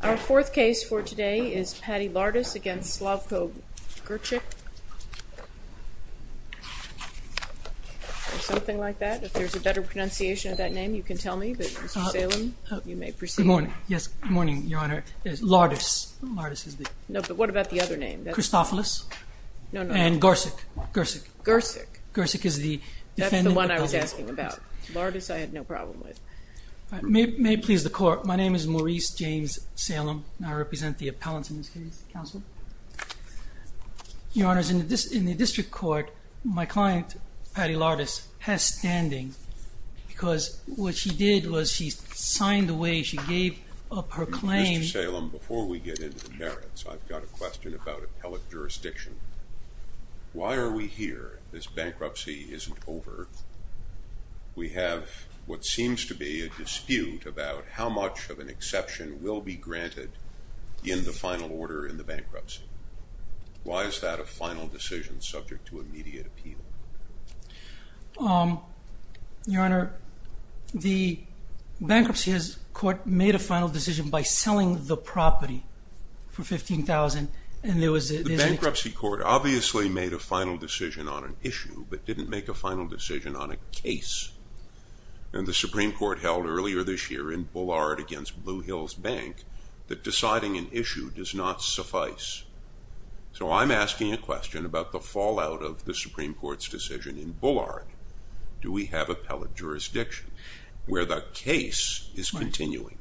Our fourth case for today is Patti Lardas v. Slavko Grcic. Something like that. If there's a better pronunciation of that name, you can tell me, but Mr. Salem, you may proceed. Good morning. Yes, good morning, Your Honor. Lardas. Lardas is the... No, but what about the other name? Christophilus. No, no. And Grcic. Grcic. Grcic. Grcic is the defendant... That's the one I was asking about. Lardas I had no problem with. May it please the court, my name is Maurice James Salem, and I represent the appellants in this case. Counsel? Your Honor, in the district court, my client, Patti Lardas, has standing because what she did was she signed away, she gave up her claim... Mr. Salem, before we get into the merits, I've got a question about appellate jurisdiction. Why are we here? This bankruptcy isn't over. We have what seems to be a dispute about how much of an exception will be granted in the final order in the bankruptcy. Why is that a final decision subject to immediate appeal? Your Honor, the bankruptcy court made a final decision by selling the property for $15,000 and there was... The bankruptcy court obviously made a final decision on an issue but didn't make a final decision on a case. And the Supreme Court held earlier this year in Bullard against Blue Hills Bank that deciding an issue does not suffice. So I'm asking a question about the fallout of the Supreme Court's decision in Bullard. Do we have appellate jurisdiction where the case is continuing?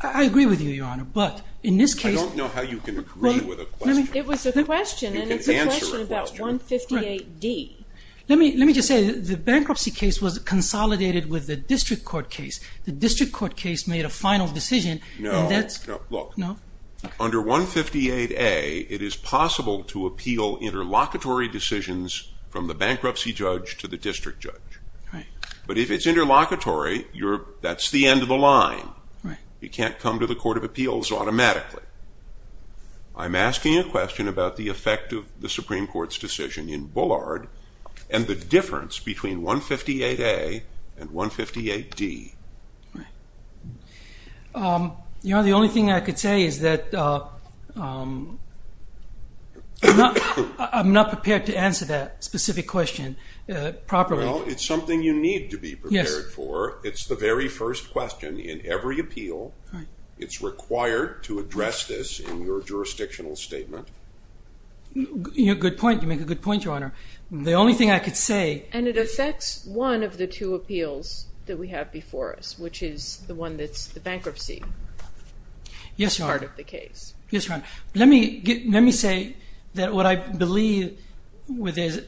I agree with you, Your Honor, but in this case... I don't know how you can agree with a question... It was a question and it's a question about 158D. Let me just say that the bankruptcy case was consolidated with the district court case. The district court case made a final decision and that's... No, look. Under 158A, it is possible to appeal interlocutory decisions from the bankruptcy judge to the district judge. But if it's interlocutory, that's the end of the line. You can't come to the Court of Appeals automatically. I'm asking a question about the effect of the Supreme Court's decision in Bullard and the difference between 158A and 158D. Your Honor, the only thing I could say is that I'm not prepared to answer that specific question properly. Well, it's something you need to be prepared for. It's the very first question in every appeal. It's required to address this in your jurisdictional statement. Good point. You make a good point, Your Honor. The only thing I could say... And it affects one of the two appeals that we have before us, which is the one that's the bankruptcy part of the case. Yes, Your Honor. Let me say that what I believe with this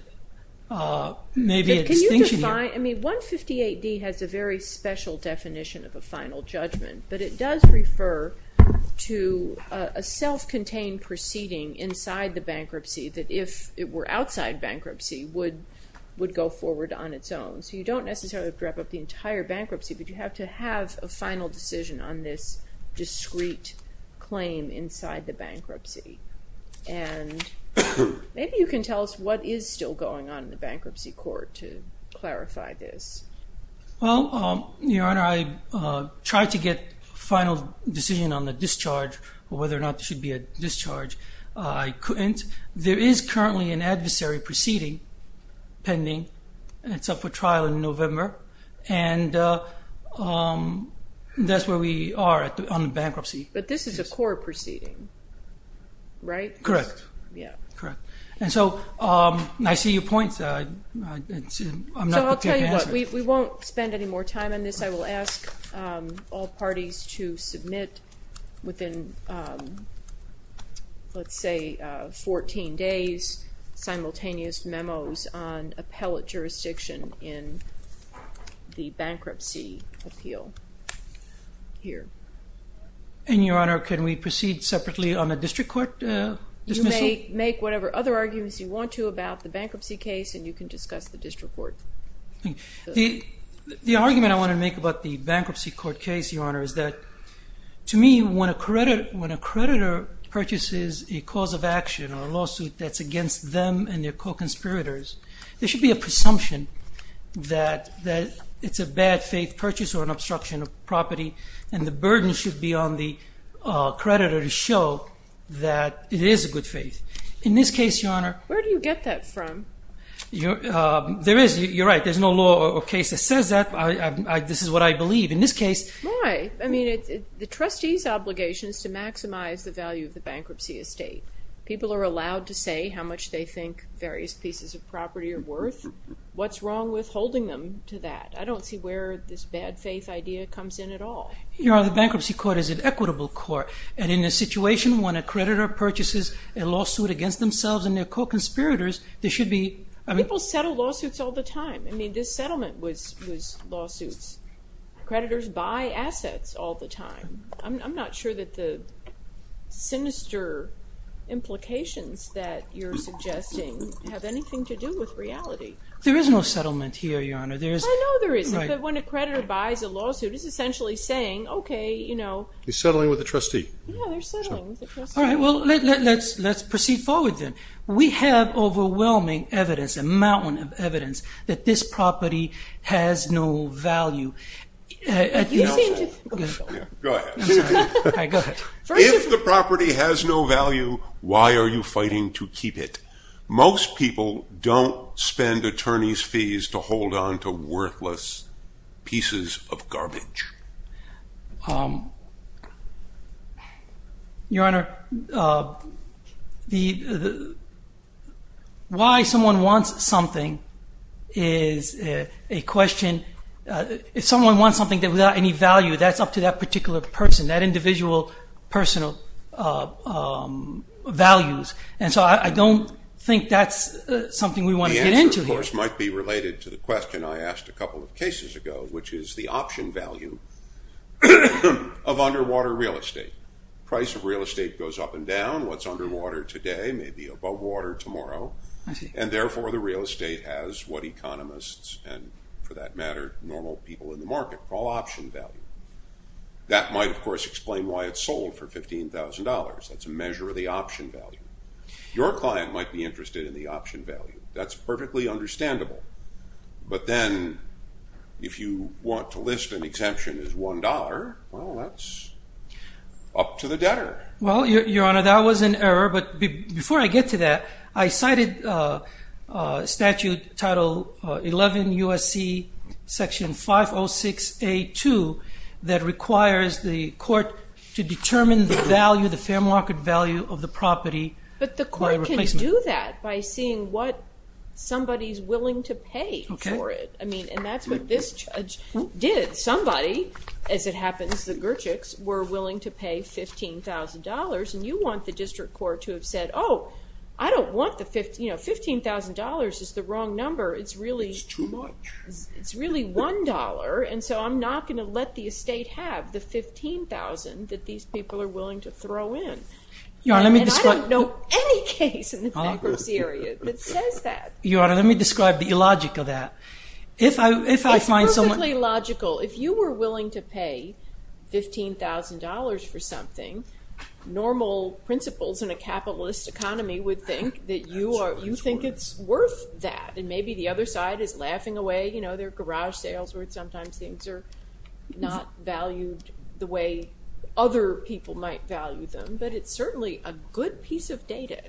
may be a distinction here. I mean, 158D has a very special definition of a final judgment, but it does refer to a self-contained proceeding inside the bankruptcy that if it were outside bankruptcy would go forward on its own. So you don't necessarily have to wrap up the entire bankruptcy, but you have to have a final decision on this discrete claim inside the bankruptcy. And maybe you can tell us what is still going on in the bankruptcy court to clarify this. Well, Your Honor, I tried to get a final decision on the discharge or whether or not there should be a discharge. I couldn't. There is currently an adversary proceeding pending. It's up for trial in November, and that's where we are on the bankruptcy. But this is a core proceeding, right? Correct. Yeah. Correct. And so I see your point. So I'll tell you what, we won't spend any more time on this. I will ask all parties to submit within, let's say, 14 days simultaneous memos on appellate jurisdiction in the bankruptcy appeal here. And, Your Honor, can we proceed separately on the district court dismissal? You may make whatever other arguments you want to about the bankruptcy case, and you can discuss the district court. The argument I want to make about the bankruptcy court case, Your Honor, is that, to me, when a creditor purchases a cause of action or a lawsuit that's against them and their co-conspirators, there should be a presumption that it's a bad faith purchase or an obstruction of property, and the burden should be on the creditor to show that it is a good faith. In this case, Your Honor, Where do you get that from? There is. You're right. There's no law or case that says that. This is what I believe. In this case, Why? I mean, the trustee's obligation is to maximize the value of the bankruptcy estate. People are allowed to say how much they think various pieces of property are worth. What's wrong with holding them to that? I don't see where this bad faith idea comes in at all. Your Honor, the bankruptcy court is an equitable court, and in a situation when a creditor purchases a lawsuit against themselves and their co-conspirators, there should be People settle lawsuits all the time. I mean, this settlement was lawsuits. Creditors buy assets all the time. I'm not sure that the sinister implications that you're suggesting have anything to do with reality. There is no settlement here, Your Honor. I know there isn't. But when a creditor buys a lawsuit, it's essentially saying, okay, you know, He's settling with the trustee. Yeah, they're settling with the trustee. All right, well, let's proceed forward then. We have overwhelming evidence, a mountain of evidence, that this property has no value. You seem to Go ahead. All right, go ahead. If the property has no value, why are you fighting to keep it? Most people don't spend attorneys' fees to hold on to worthless pieces of garbage. Your Honor, why someone wants something is a question. If someone wants something without any value, that's up to that particular person, that individual personal values. And so I don't think that's something we want to get into here. This, of course, might be related to the question I asked a couple of cases ago, which is the option value of underwater real estate. The price of real estate goes up and down. What's underwater today may be above water tomorrow. And therefore, the real estate has what economists and, for that matter, normal people in the market call option value. That might, of course, explain why it's sold for $15,000. That's a measure of the option value. Your client might be interested in the option value. That's perfectly understandable. But then if you want to list an exemption as $1, well, that's up to the debtor. Well, Your Honor, that was an error. But before I get to that, I cited Statute Title 11 U.S.C. Section 506A2 that requires the court to determine the value, the fair market value of the property. But the court can do that by seeing what somebody's willing to pay for it. And that's what this judge did. Somebody, as it happens, the Gurchicks, were willing to pay $15,000. And you want the district court to have said, oh, I don't want the, you know, $15,000 is the wrong number. It's really $1. And so I'm not going to let the estate have the $15,000 that these people are willing to throw in. And I don't know any case in the bankruptcy area that says that. Your Honor, let me describe the illogic of that. It's perfectly logical. If you were willing to pay $15,000 for something, normal principals in a capitalist economy would think that you think it's worth that. And maybe the other side is laughing away. You know, there are garage sales where sometimes things are not valued the way other people might value them. But it's certainly a good piece of data.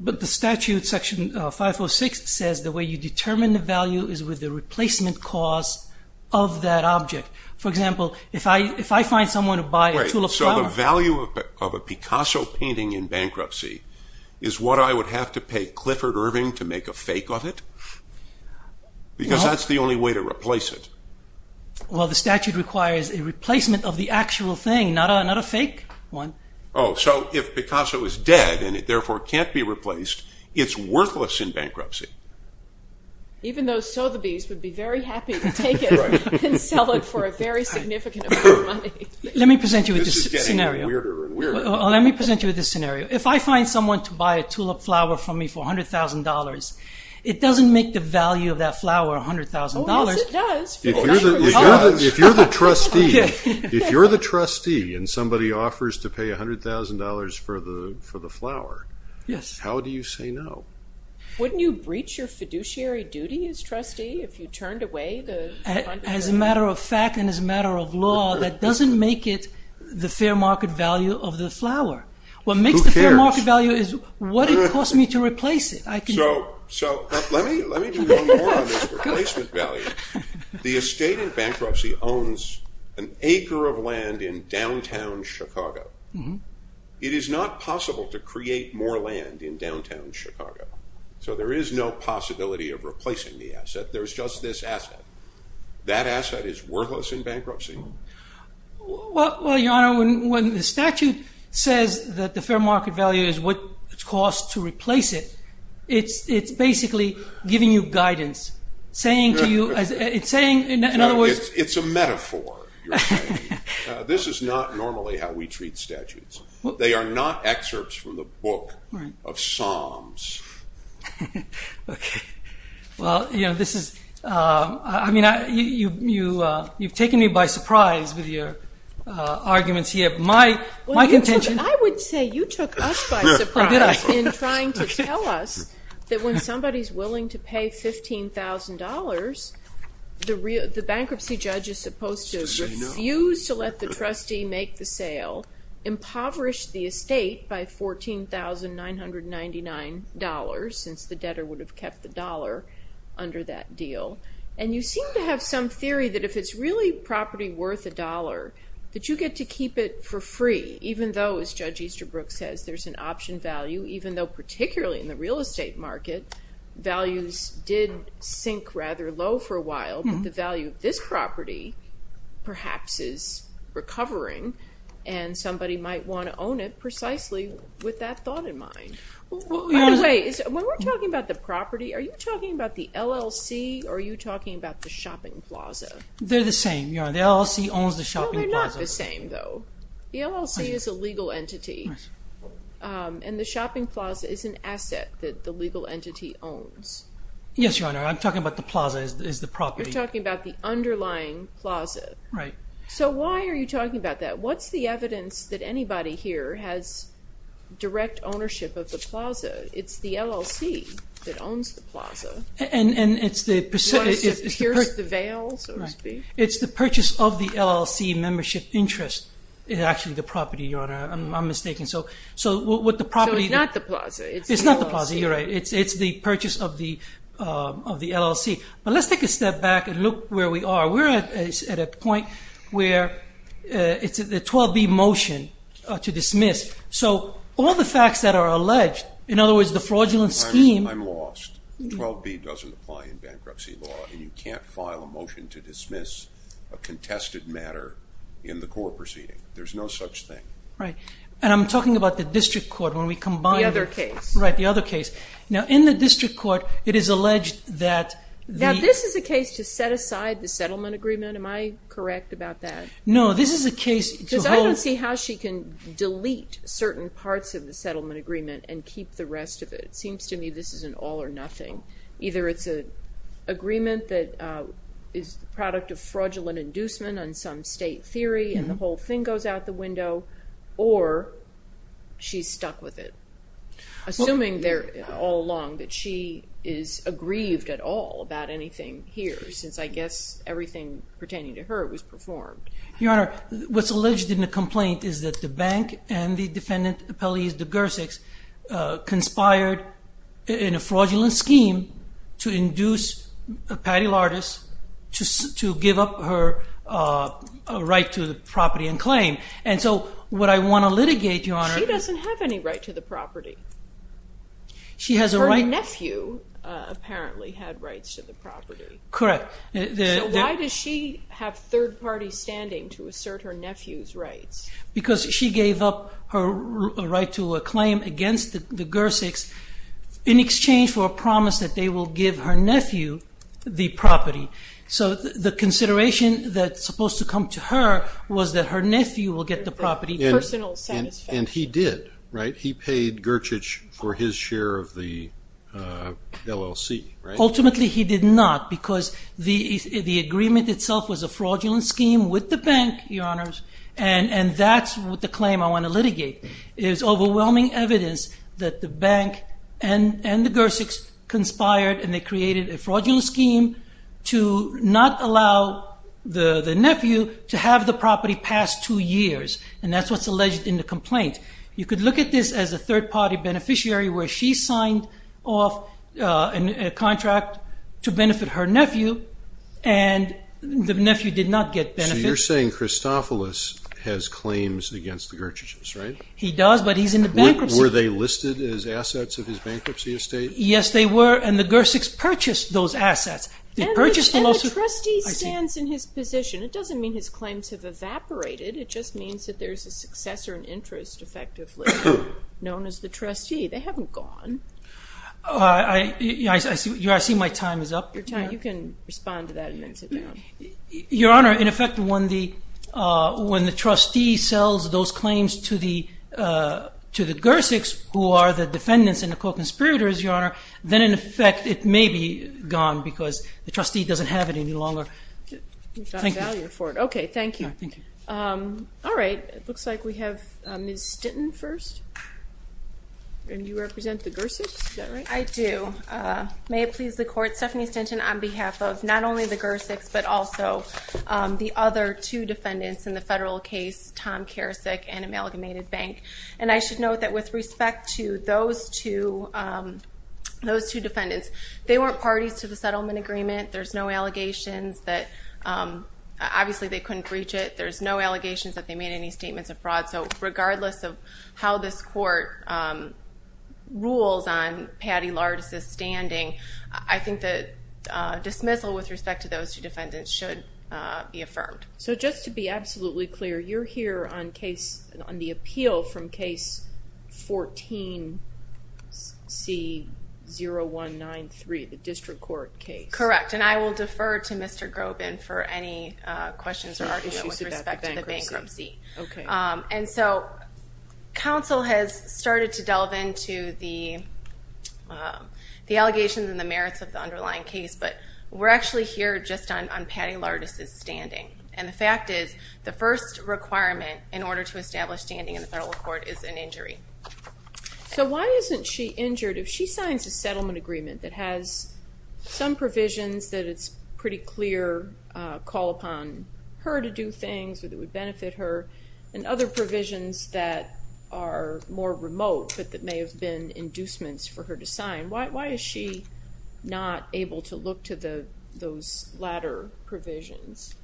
But the statute, Section 506, says the way you determine the value is with the replacement cost of that object. For example, if I find someone to buy a tulip flower. So the value of a Picasso painting in bankruptcy is what I would have to pay Clifford Irving to make a fake of it? Because that's the only way to replace it. Well, the statute requires a replacement of the actual thing, not a fake one. Oh, so if Picasso is dead and it therefore can't be replaced, it's worthless in bankruptcy. Even though Sotheby's would be very happy to take it and sell it for a very significant amount of money. Let me present you with this scenario. This is getting weirder and weirder. Let me present you with this scenario. If I find someone to buy a tulip flower from me for $100,000, it doesn't make the value of that flower $100,000. Oh, yes, it does. If you're the trustee and somebody offers to pay $100,000 for the flower, how do you say no? Wouldn't you breach your fiduciary duty as trustee if you turned away the funder? As a matter of fact and as a matter of law, that doesn't make it the fair market value of the flower. Who cares? What makes the fair market value is what it costs me to replace it. Let me do one more on this replacement value. The estate in bankruptcy owns an acre of land in downtown Chicago. It is not possible to create more land in downtown Chicago, so there is no possibility of replacing the asset. There's just this asset. That asset is worthless in bankruptcy. Well, Your Honor, when the statute says that the fair market value is what it costs to replace it, it's basically giving you guidance. It's a metaphor. This is not normally how we treat statutes. They are not excerpts from the book of Psalms. Okay. Well, you know, this is – I mean, you've taken me by surprise with your arguments here. My contention – I would say you took us by surprise in trying to tell us that when somebody is willing to pay $15,000, the bankruptcy judge is supposed to refuse to let the trustee make the sale, impoverish the estate by $14,999, since the debtor would have kept the dollar under that deal. And you seem to have some theory that if it's really property worth a dollar, that you get to keep it for free, even though, as Judge Easterbrook says, there's an option value, even though particularly in the real estate market, values did sink rather low for a while. But the value of this property perhaps is recovering, and somebody might want to own it precisely with that thought in mind. By the way, when we're talking about the property, are you talking about the LLC or are you talking about the shopping plaza? They're the same, Your Honor. The LLC owns the shopping plaza. No, they're not the same, though. The LLC is a legal entity. And the shopping plaza is an asset that the legal entity owns. Yes, Your Honor. I'm talking about the plaza as the property. You're talking about the underlying plaza. Right. So why are you talking about that? What's the evidence that anybody here has direct ownership of the plaza? It's the LLC that owns the plaza. And it's the... What is it? Here's the veil, so to speak? Right. It's the purchase of the LLC membership interest. It's actually the property, Your Honor. I'm mistaken. So what the property... So it's not the plaza. It's the LLC. It's not the plaza. You're right. It's the purchase of the LLC. But let's take a step back and look where we are. We're at a point where it's a 12B motion to dismiss. So all the facts that are alleged, in other words, the fraudulent scheme... Your Honor, I'm lost. 12B doesn't apply in bankruptcy law, and you can't file a motion to dismiss a contested matter in the court proceeding. There's no such thing. Right. And I'm talking about the district court when we combine... The other case. Right, the other case. Now, in the district court, it is alleged that the... Now, this is a case to set aside the settlement agreement. Am I correct about that? No, this is a case to hold... Because I don't see how she can delete certain parts of the settlement agreement and keep the rest of it. It seems to me this is an all or nothing. Either it's an agreement that is the product of fraudulent inducement on some state theory and the whole thing goes out the window, or she's stuck with it, assuming all along that she is aggrieved at all about anything here, since I guess everything pertaining to her was performed. Your Honor, what's alleged in the complaint is that the bank and the defendant, Pelleas de Gersicks, conspired in a fraudulent scheme to induce Patty Lardis to give up her right to the property and claim. And so what I want to litigate, Your Honor... She doesn't have any right to the property. She has a right... Her nephew apparently had rights to the property. Correct. Because she gave up her right to a claim against the Gersicks in exchange for a promise that they will give her nephew the property. So the consideration that's supposed to come to her was that her nephew will get the property. Personal satisfaction. And he did, right? He paid Gerchich for his share of the LLC, right? Ultimately, he did not, because the agreement itself was a fraudulent scheme with the bank, Your Honors, and that's what the claim I want to litigate is overwhelming evidence that the bank and the Gersicks conspired and they created a fraudulent scheme to not allow the nephew to have the property past two years, and that's what's alleged in the complaint. You could look at this as a third-party beneficiary where she signed off a contract to benefit her nephew, and the nephew did not get benefit. So you're saying Christophilus has claims against the Gerchichs, right? He does, but he's in the bankruptcy. Were they listed as assets of his bankruptcy estate? Yes, they were, and the Gersicks purchased those assets. And the trustee stands in his position. It doesn't mean his claims have evaporated. It just means that there's a successor in interest, effectively, known as the trustee. They haven't gone. I see my time is up. You can respond to that and then sit down. Your Honor, in effect, when the trustee sells those claims to the Gersicks, who are the defendants and the co-conspirators, Your Honor, then in effect it may be gone because the trustee doesn't have it any longer. Thank you. Okay, thank you. All right, it looks like we have Ms. Stinton first. And you represent the Gersicks, is that right? I do. May it please the Court, Stephanie Stinton on behalf of not only the Gersicks but also the other two defendants in the federal case, Tom Karasik and Amalgamated Bank. And I should note that with respect to those two defendants, they weren't parties to the settlement agreement. There's no allegations that obviously they couldn't breach it. There's no allegations that they made any statements of fraud. So regardless of how this Court rules on Patty Lardis' standing, I think the dismissal with respect to those two defendants should be affirmed. So just to be absolutely clear, you're here on the appeal from Case 14-C-0193, the district court case? Correct, and I will defer to Mr. Grobin for any questions or argument with respect to the bankruptcy. Okay. And so counsel has started to delve into the allegations and the merits of the underlying case, but we're actually here just on Patty Lardis' standing. And the fact is the first requirement in order to establish standing in the federal court is an injury. So why isn't she injured if she signs a settlement agreement that has some provisions that it's pretty clear call upon her to do things that would benefit her and other provisions that are more remote but that may have been inducements for her to sign? Why is she not able to look to those latter provisions?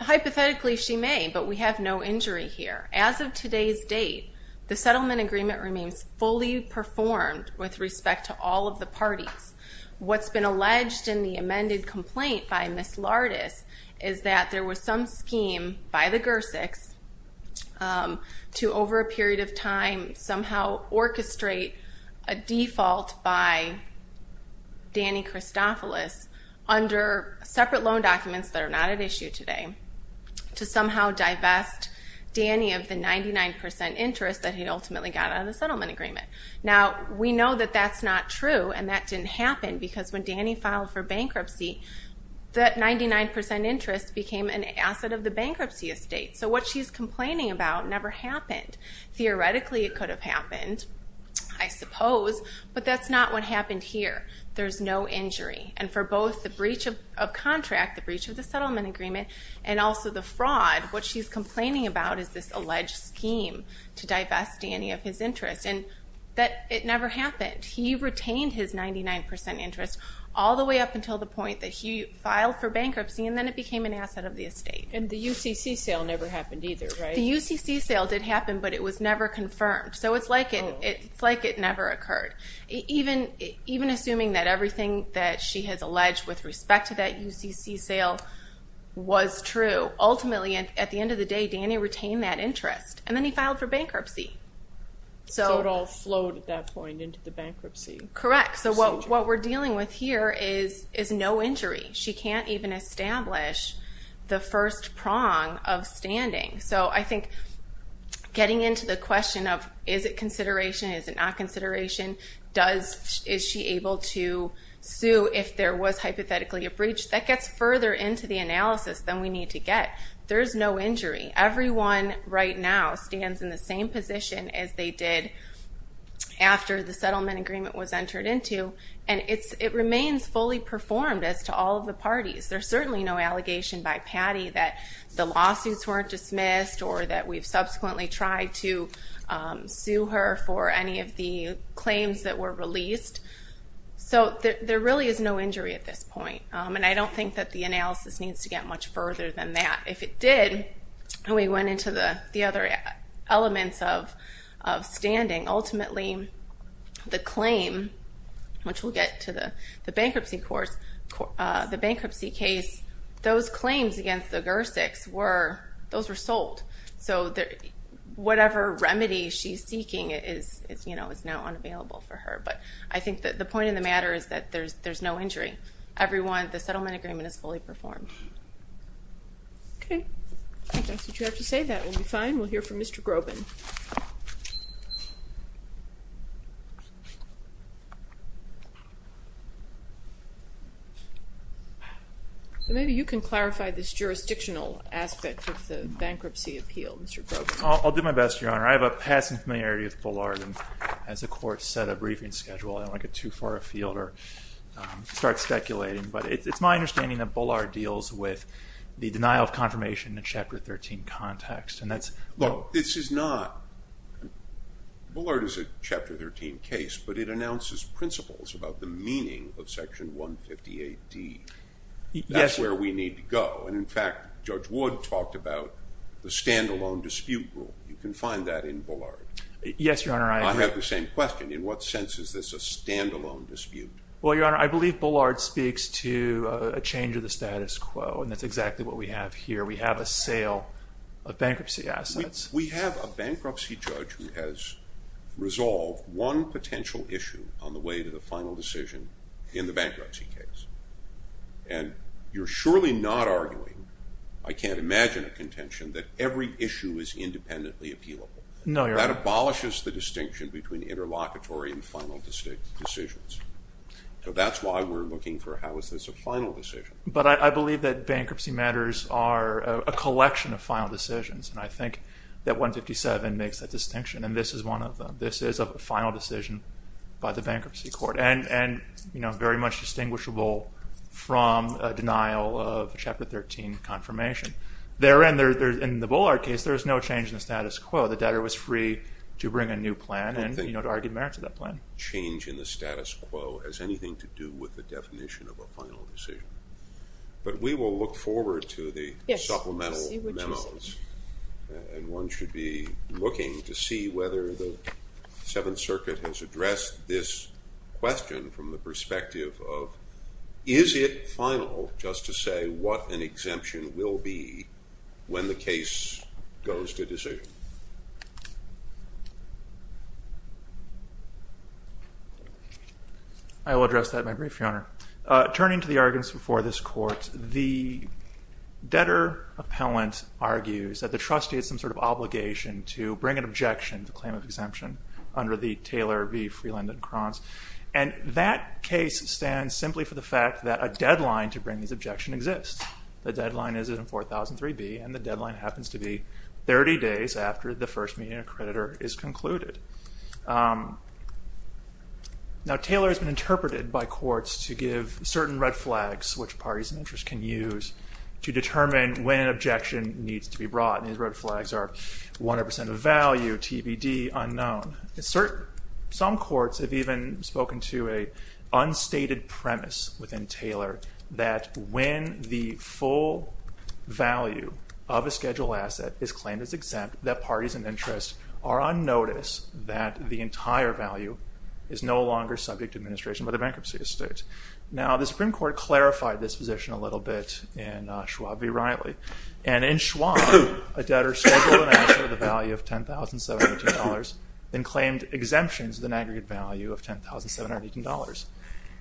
Hypothetically, she may, but we have no injury here. As of today's date, the settlement agreement remains fully performed with respect to all of the parties. What's been alleged in the amended complaint by Ms. Lardis is that there was some scheme by the GERSICs to, over a period of time, somehow orchestrate a default by Danny Christopoulos under separate loan documents that are not at issue today to somehow divest Danny of the 99% interest that he ultimately got out of the settlement agreement. Now, we know that that's not true, and that didn't happen because when Danny filed for bankruptcy, that 99% interest became an asset of the bankruptcy estate. So what she's complaining about never happened. Theoretically, it could have happened, I suppose, but that's not what happened here. There's no injury, and for both the breach of contract, the breach of the settlement agreement, and also the fraud, what she's complaining about is this alleged scheme to divest Danny of his interest, and it never happened. He retained his 99% interest all the way up until the point that he filed for bankruptcy, and then it became an asset of the estate. And the UCC sale never happened either, right? The UCC sale did happen, but it was never confirmed, so it's like it never occurred. Even assuming that everything that she has alleged with respect to that UCC sale was true, ultimately, at the end of the day, Danny retained that interest, and then he filed for bankruptcy. So it all flowed at that point into the bankruptcy procedure. Correct. So what we're dealing with here is no injury. She can't even establish the first prong of standing. So I think getting into the question of is it consideration, is it not consideration, is she able to sue if there was hypothetically a breach, that gets further into the analysis than we need to get. There's no injury. Everyone right now stands in the same position as they did after the settlement agreement was entered into, and it remains fully performed as to all of the parties. There's certainly no allegation by Patty that the lawsuits weren't dismissed or that we've subsequently tried to sue her for any of the claims that were released. So there really is no injury at this point, and I don't think that the analysis needs to get much further than that. If it did, and we went into the other elements of standing, ultimately the claim, which we'll get to the bankruptcy case, those claims against the GERSICs, those were sold. So whatever remedy she's seeking is now unavailable for her. But I think the point of the matter is that there's no injury. The settlement agreement is fully performed. Okay. I think that's what you have to say. That will be fine. We'll hear from Mr. Groban. Maybe you can clarify this jurisdictional aspect of the bankruptcy appeal, Mr. Groban. I'll do my best, Your Honor. I have a passing familiarity with Bullard, and as the Court set a briefing schedule, I don't want to get too far afield or start speculating. But it's my understanding that Bullard deals with the denial of confirmation in a Chapter 13 context. Look, this is not – Bullard is a Chapter 13 case, but it announces principles about the meaning of Section 150AD. That's where we need to go. In fact, Judge Wood talked about the standalone dispute rule. You can find that in Bullard. Yes, Your Honor, I agree. I have the same question. In what sense is this a standalone dispute? Well, Your Honor, I believe Bullard speaks to a change of the status quo, and that's exactly what we have here. We have a sale of bankruptcy assets. We have a bankruptcy judge who has resolved one potential issue on the way to the final decision in the bankruptcy case. And you're surely not arguing – I can't imagine a contention – that every issue is independently appealable. No, Your Honor. That abolishes the distinction between interlocutory and final decisions. So that's why we're looking for how is this a final decision. But I believe that bankruptcy matters are a collection of final decisions, and I think that 157 makes that distinction, and this is one of them. This is a final decision by the Bankruptcy Court and very much distinguishable from a denial of Chapter 13 confirmation. Therein, in the Bullard case, there is no change in the status quo. The debtor was free to bring a new plan and, you know, to argue the merits of that plan. Change in the status quo has anything to do with the definition of a final decision. But we will look forward to the supplemental memos, and one should be looking to see whether the Seventh Circuit has addressed this question from the perspective of is it final, just to say what an exemption will be when the case goes to decision. I will address that in my brief, Your Honor. Turning to the arguments before this Court, the debtor appellant argues that the trustee has some sort of obligation to bring an objection to claim of exemption under the Taylor v. Freeland and Kranz, and that case stands simply for the fact that a deadline to bring these objections exists. The deadline is in 4003B, and the deadline happens to be 30 days after the first meeting of the creditor is concluded. Now, Taylor has been interpreted by courts to give certain red flags, which parties of interest can use to determine when an objection needs to be brought. These red flags are 100% of value, TBD unknown. Some courts have even spoken to an unstated premise within Taylor that when the full value of a scheduled asset is claimed as exempt, that parties of interest are on notice that the entire value is no longer subject to administration by the bankruptcy estate. Now, the Supreme Court clarified this position a little bit in Schwab v. Riley, and in Schwab, a debtor scheduled an asset with a value of $10,718 and claimed exemptions with an aggregate value of $10,718.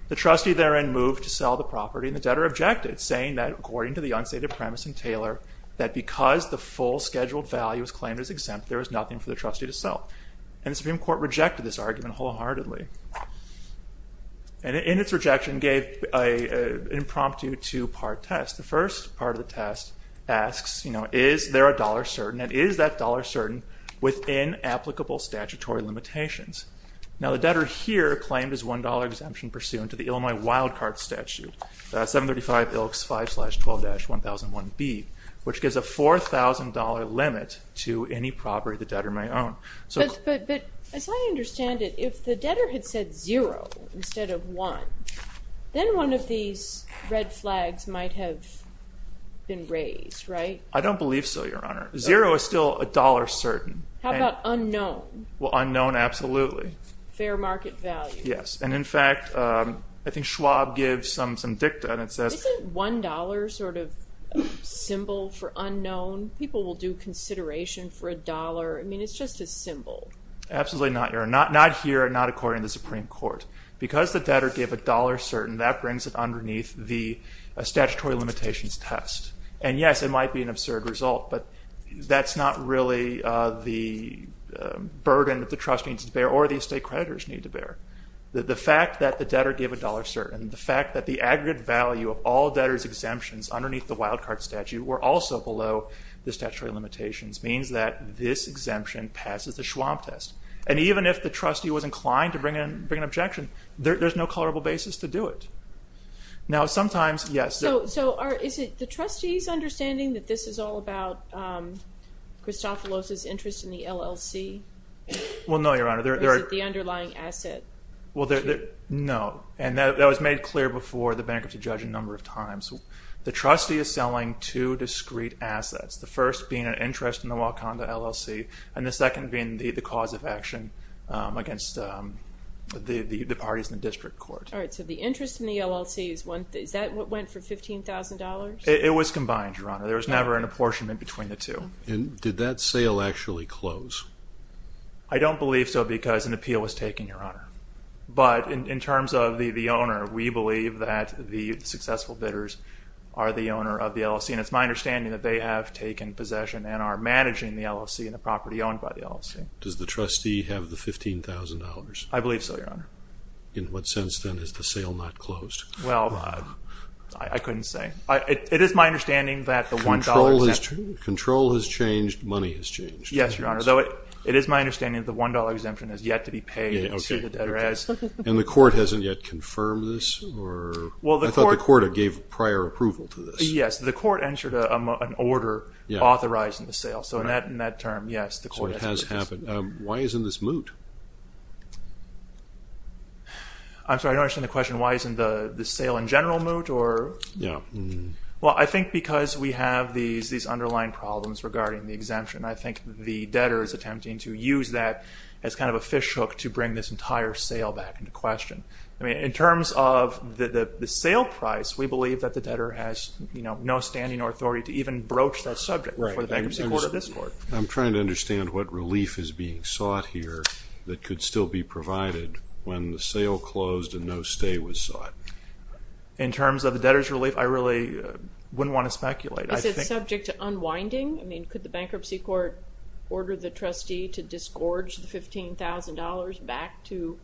The trustee therein moved to sell the property, and the debtor objected, saying that, according to the unstated premise in Taylor, that because the full scheduled value is claimed as exempt, there is nothing for the trustee to sell. And the Supreme Court rejected this argument wholeheartedly, and in its rejection gave an impromptu two-part test. The first part of the test asks, you know, is there a dollar certain, and is that dollar certain within applicable statutory limitations? Now, the debtor here claimed his $1 exemption pursuant to the Illinois wildcard statute, 735 ILCS 5-12-1001B, which gives a $4,000 limit to any property the debtor may own. But as I understand it, if the debtor had said zero instead of one, then one of these red flags might have been raised, right? I don't believe so, Your Honor. Zero is still a dollar certain. How about unknown? Well, unknown, absolutely. Fair market value. Yes, and in fact, I think Schwab gives some dicta, and it says... Isn't $1 sort of a symbol for unknown? People will do consideration for $1. I mean, it's just a symbol. Absolutely not, Your Honor. Not here and not according to the Supreme Court. Because the debtor gave a dollar certain, that brings it underneath the statutory limitations test. And yes, it might be an absurd result, but that's not really the burden that the trust needs to bear or the estate creditors need to bear. The fact that the debtor gave a dollar certain, the fact that the aggregate value of all debtors' exemptions underneath the wildcard statute were also below the statutory limitations means that this exemption passes the Schwab test. And even if the trustee was inclined to bring an objection, there's no colorable basis to do it. Now, sometimes, yes. So, is it the trustee's understanding that this is all about Christofelos' interest in the LLC? Well, no, Your Honor. Or is it the underlying asset? Well, no. And that was made clear before the bankruptcy judge a number of times. The trustee is selling two discrete assets, the first being an interest in the Wakanda LLC and the second being the cause of action against the parties in the district court. All right. So the interest in the LLC, is that what went for $15,000? It was combined, Your Honor. There was never an apportionment between the two. And did that sale actually close? I don't believe so because an appeal was taken, Your Honor. But in terms of the owner, we believe that the successful debtors are the owner of the LLC. And it's my understanding that they have taken possession and are managing the LLC and the property owned by the LLC. Does the trustee have the $15,000? I believe so, Your Honor. In what sense, then, is the sale not closed? Well, I couldn't say. It is my understanding that the $1 exemption... Control has changed. Money has changed. Yes, Your Honor. Though it is my understanding that the $1 exemption has yet to be paid. And the court hasn't yet confirmed this? I thought the court gave prior approval to this. Yes, the court entered an order authorizing the sale. So in that term, yes, the court has. Why isn't this moot? I'm sorry, I don't understand the question. Why isn't the sale in general moot? Well, I think because we have these underlying problems regarding the exemption. I think the debtor is attempting to use that as kind of a fishhook to bring this entire sale back into question. I mean, in terms of the sale price, we believe that the debtor has no standing or authority to even broach that subject for the bankruptcy court or this court. I'm trying to understand what relief is being sought here that could still be provided when the sale closed and no stay was sought. In terms of the debtor's relief, I really wouldn't want to speculate. Is it subject to unwinding? I mean, could the bankruptcy court order the trustee to disgorge the $15,000 back to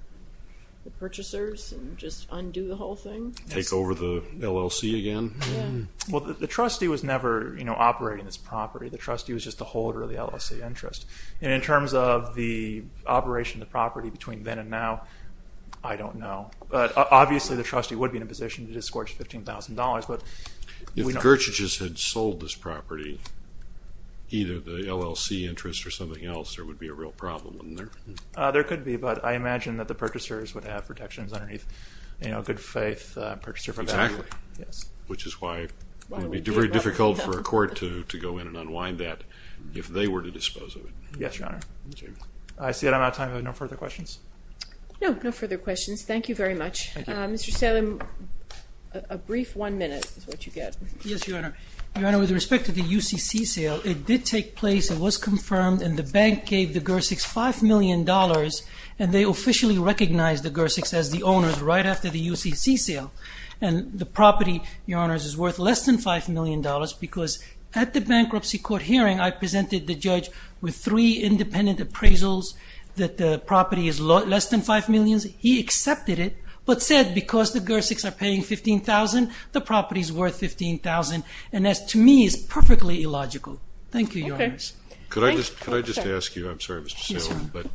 the purchasers and just undo the whole thing? Take over the LLC again? Well, the trustee was never operating this property. The trustee was just the holder of the LLC interest. In terms of the operation of the property between then and now, I don't know. But obviously the trustee would be in a position to disgorge $15,000. If Gertrude just had sold this property, either the LLC interest or something else, there would be a real problem. There could be, but I imagine that the purchasers would have protections underneath good faith purchaser value. Exactly, which is why it would be very difficult for a court to go in and unwind that if they were to dispose of it. Yes, Your Honor. I see that I'm out of time. I have no further questions. No, no further questions. Thank you very much. Mr. Salem, a brief one minute is what you get. Yes, Your Honor. Your Honor, with respect to the UCC sale, it did take place. It was confirmed, and the bank gave the Gersiks $5 million, and they officially recognized the Gersiks as the owners right after the UCC sale. The property, Your Honor, is worth less than $5 million because at the bankruptcy court hearing, I presented the judge with three independent appraisals that the property is less than $5 million. He accepted it but said because the Gersiks are paying $15,000, the property is worth $15,000. That, to me, is perfectly illogical. Thank you, Your Honor. Could I just ask you? I'm sorry, Mr. Salem, but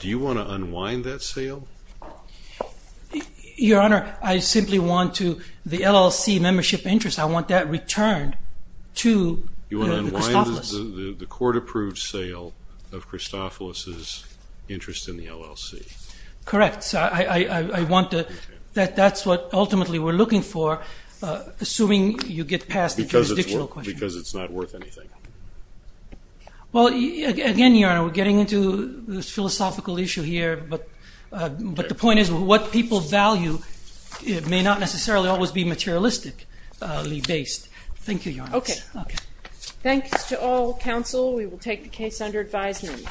do you want to unwind that sale? Your Honor, I simply want to the LLC membership interest, I want that returned to the Christoffelis. You want to unwind the court-approved sale of Christoffelis' interest in the LLC. Correct. That's what ultimately we're looking for, assuming you get past the jurisdictional question. Because it's not worth anything. Again, Your Honor, we're getting into this philosophical issue here, but the point is what people value may not necessarily always be materialistically based. Thank you, Your Honor. Okay. Thanks to all counsel. We will take the case under advisement.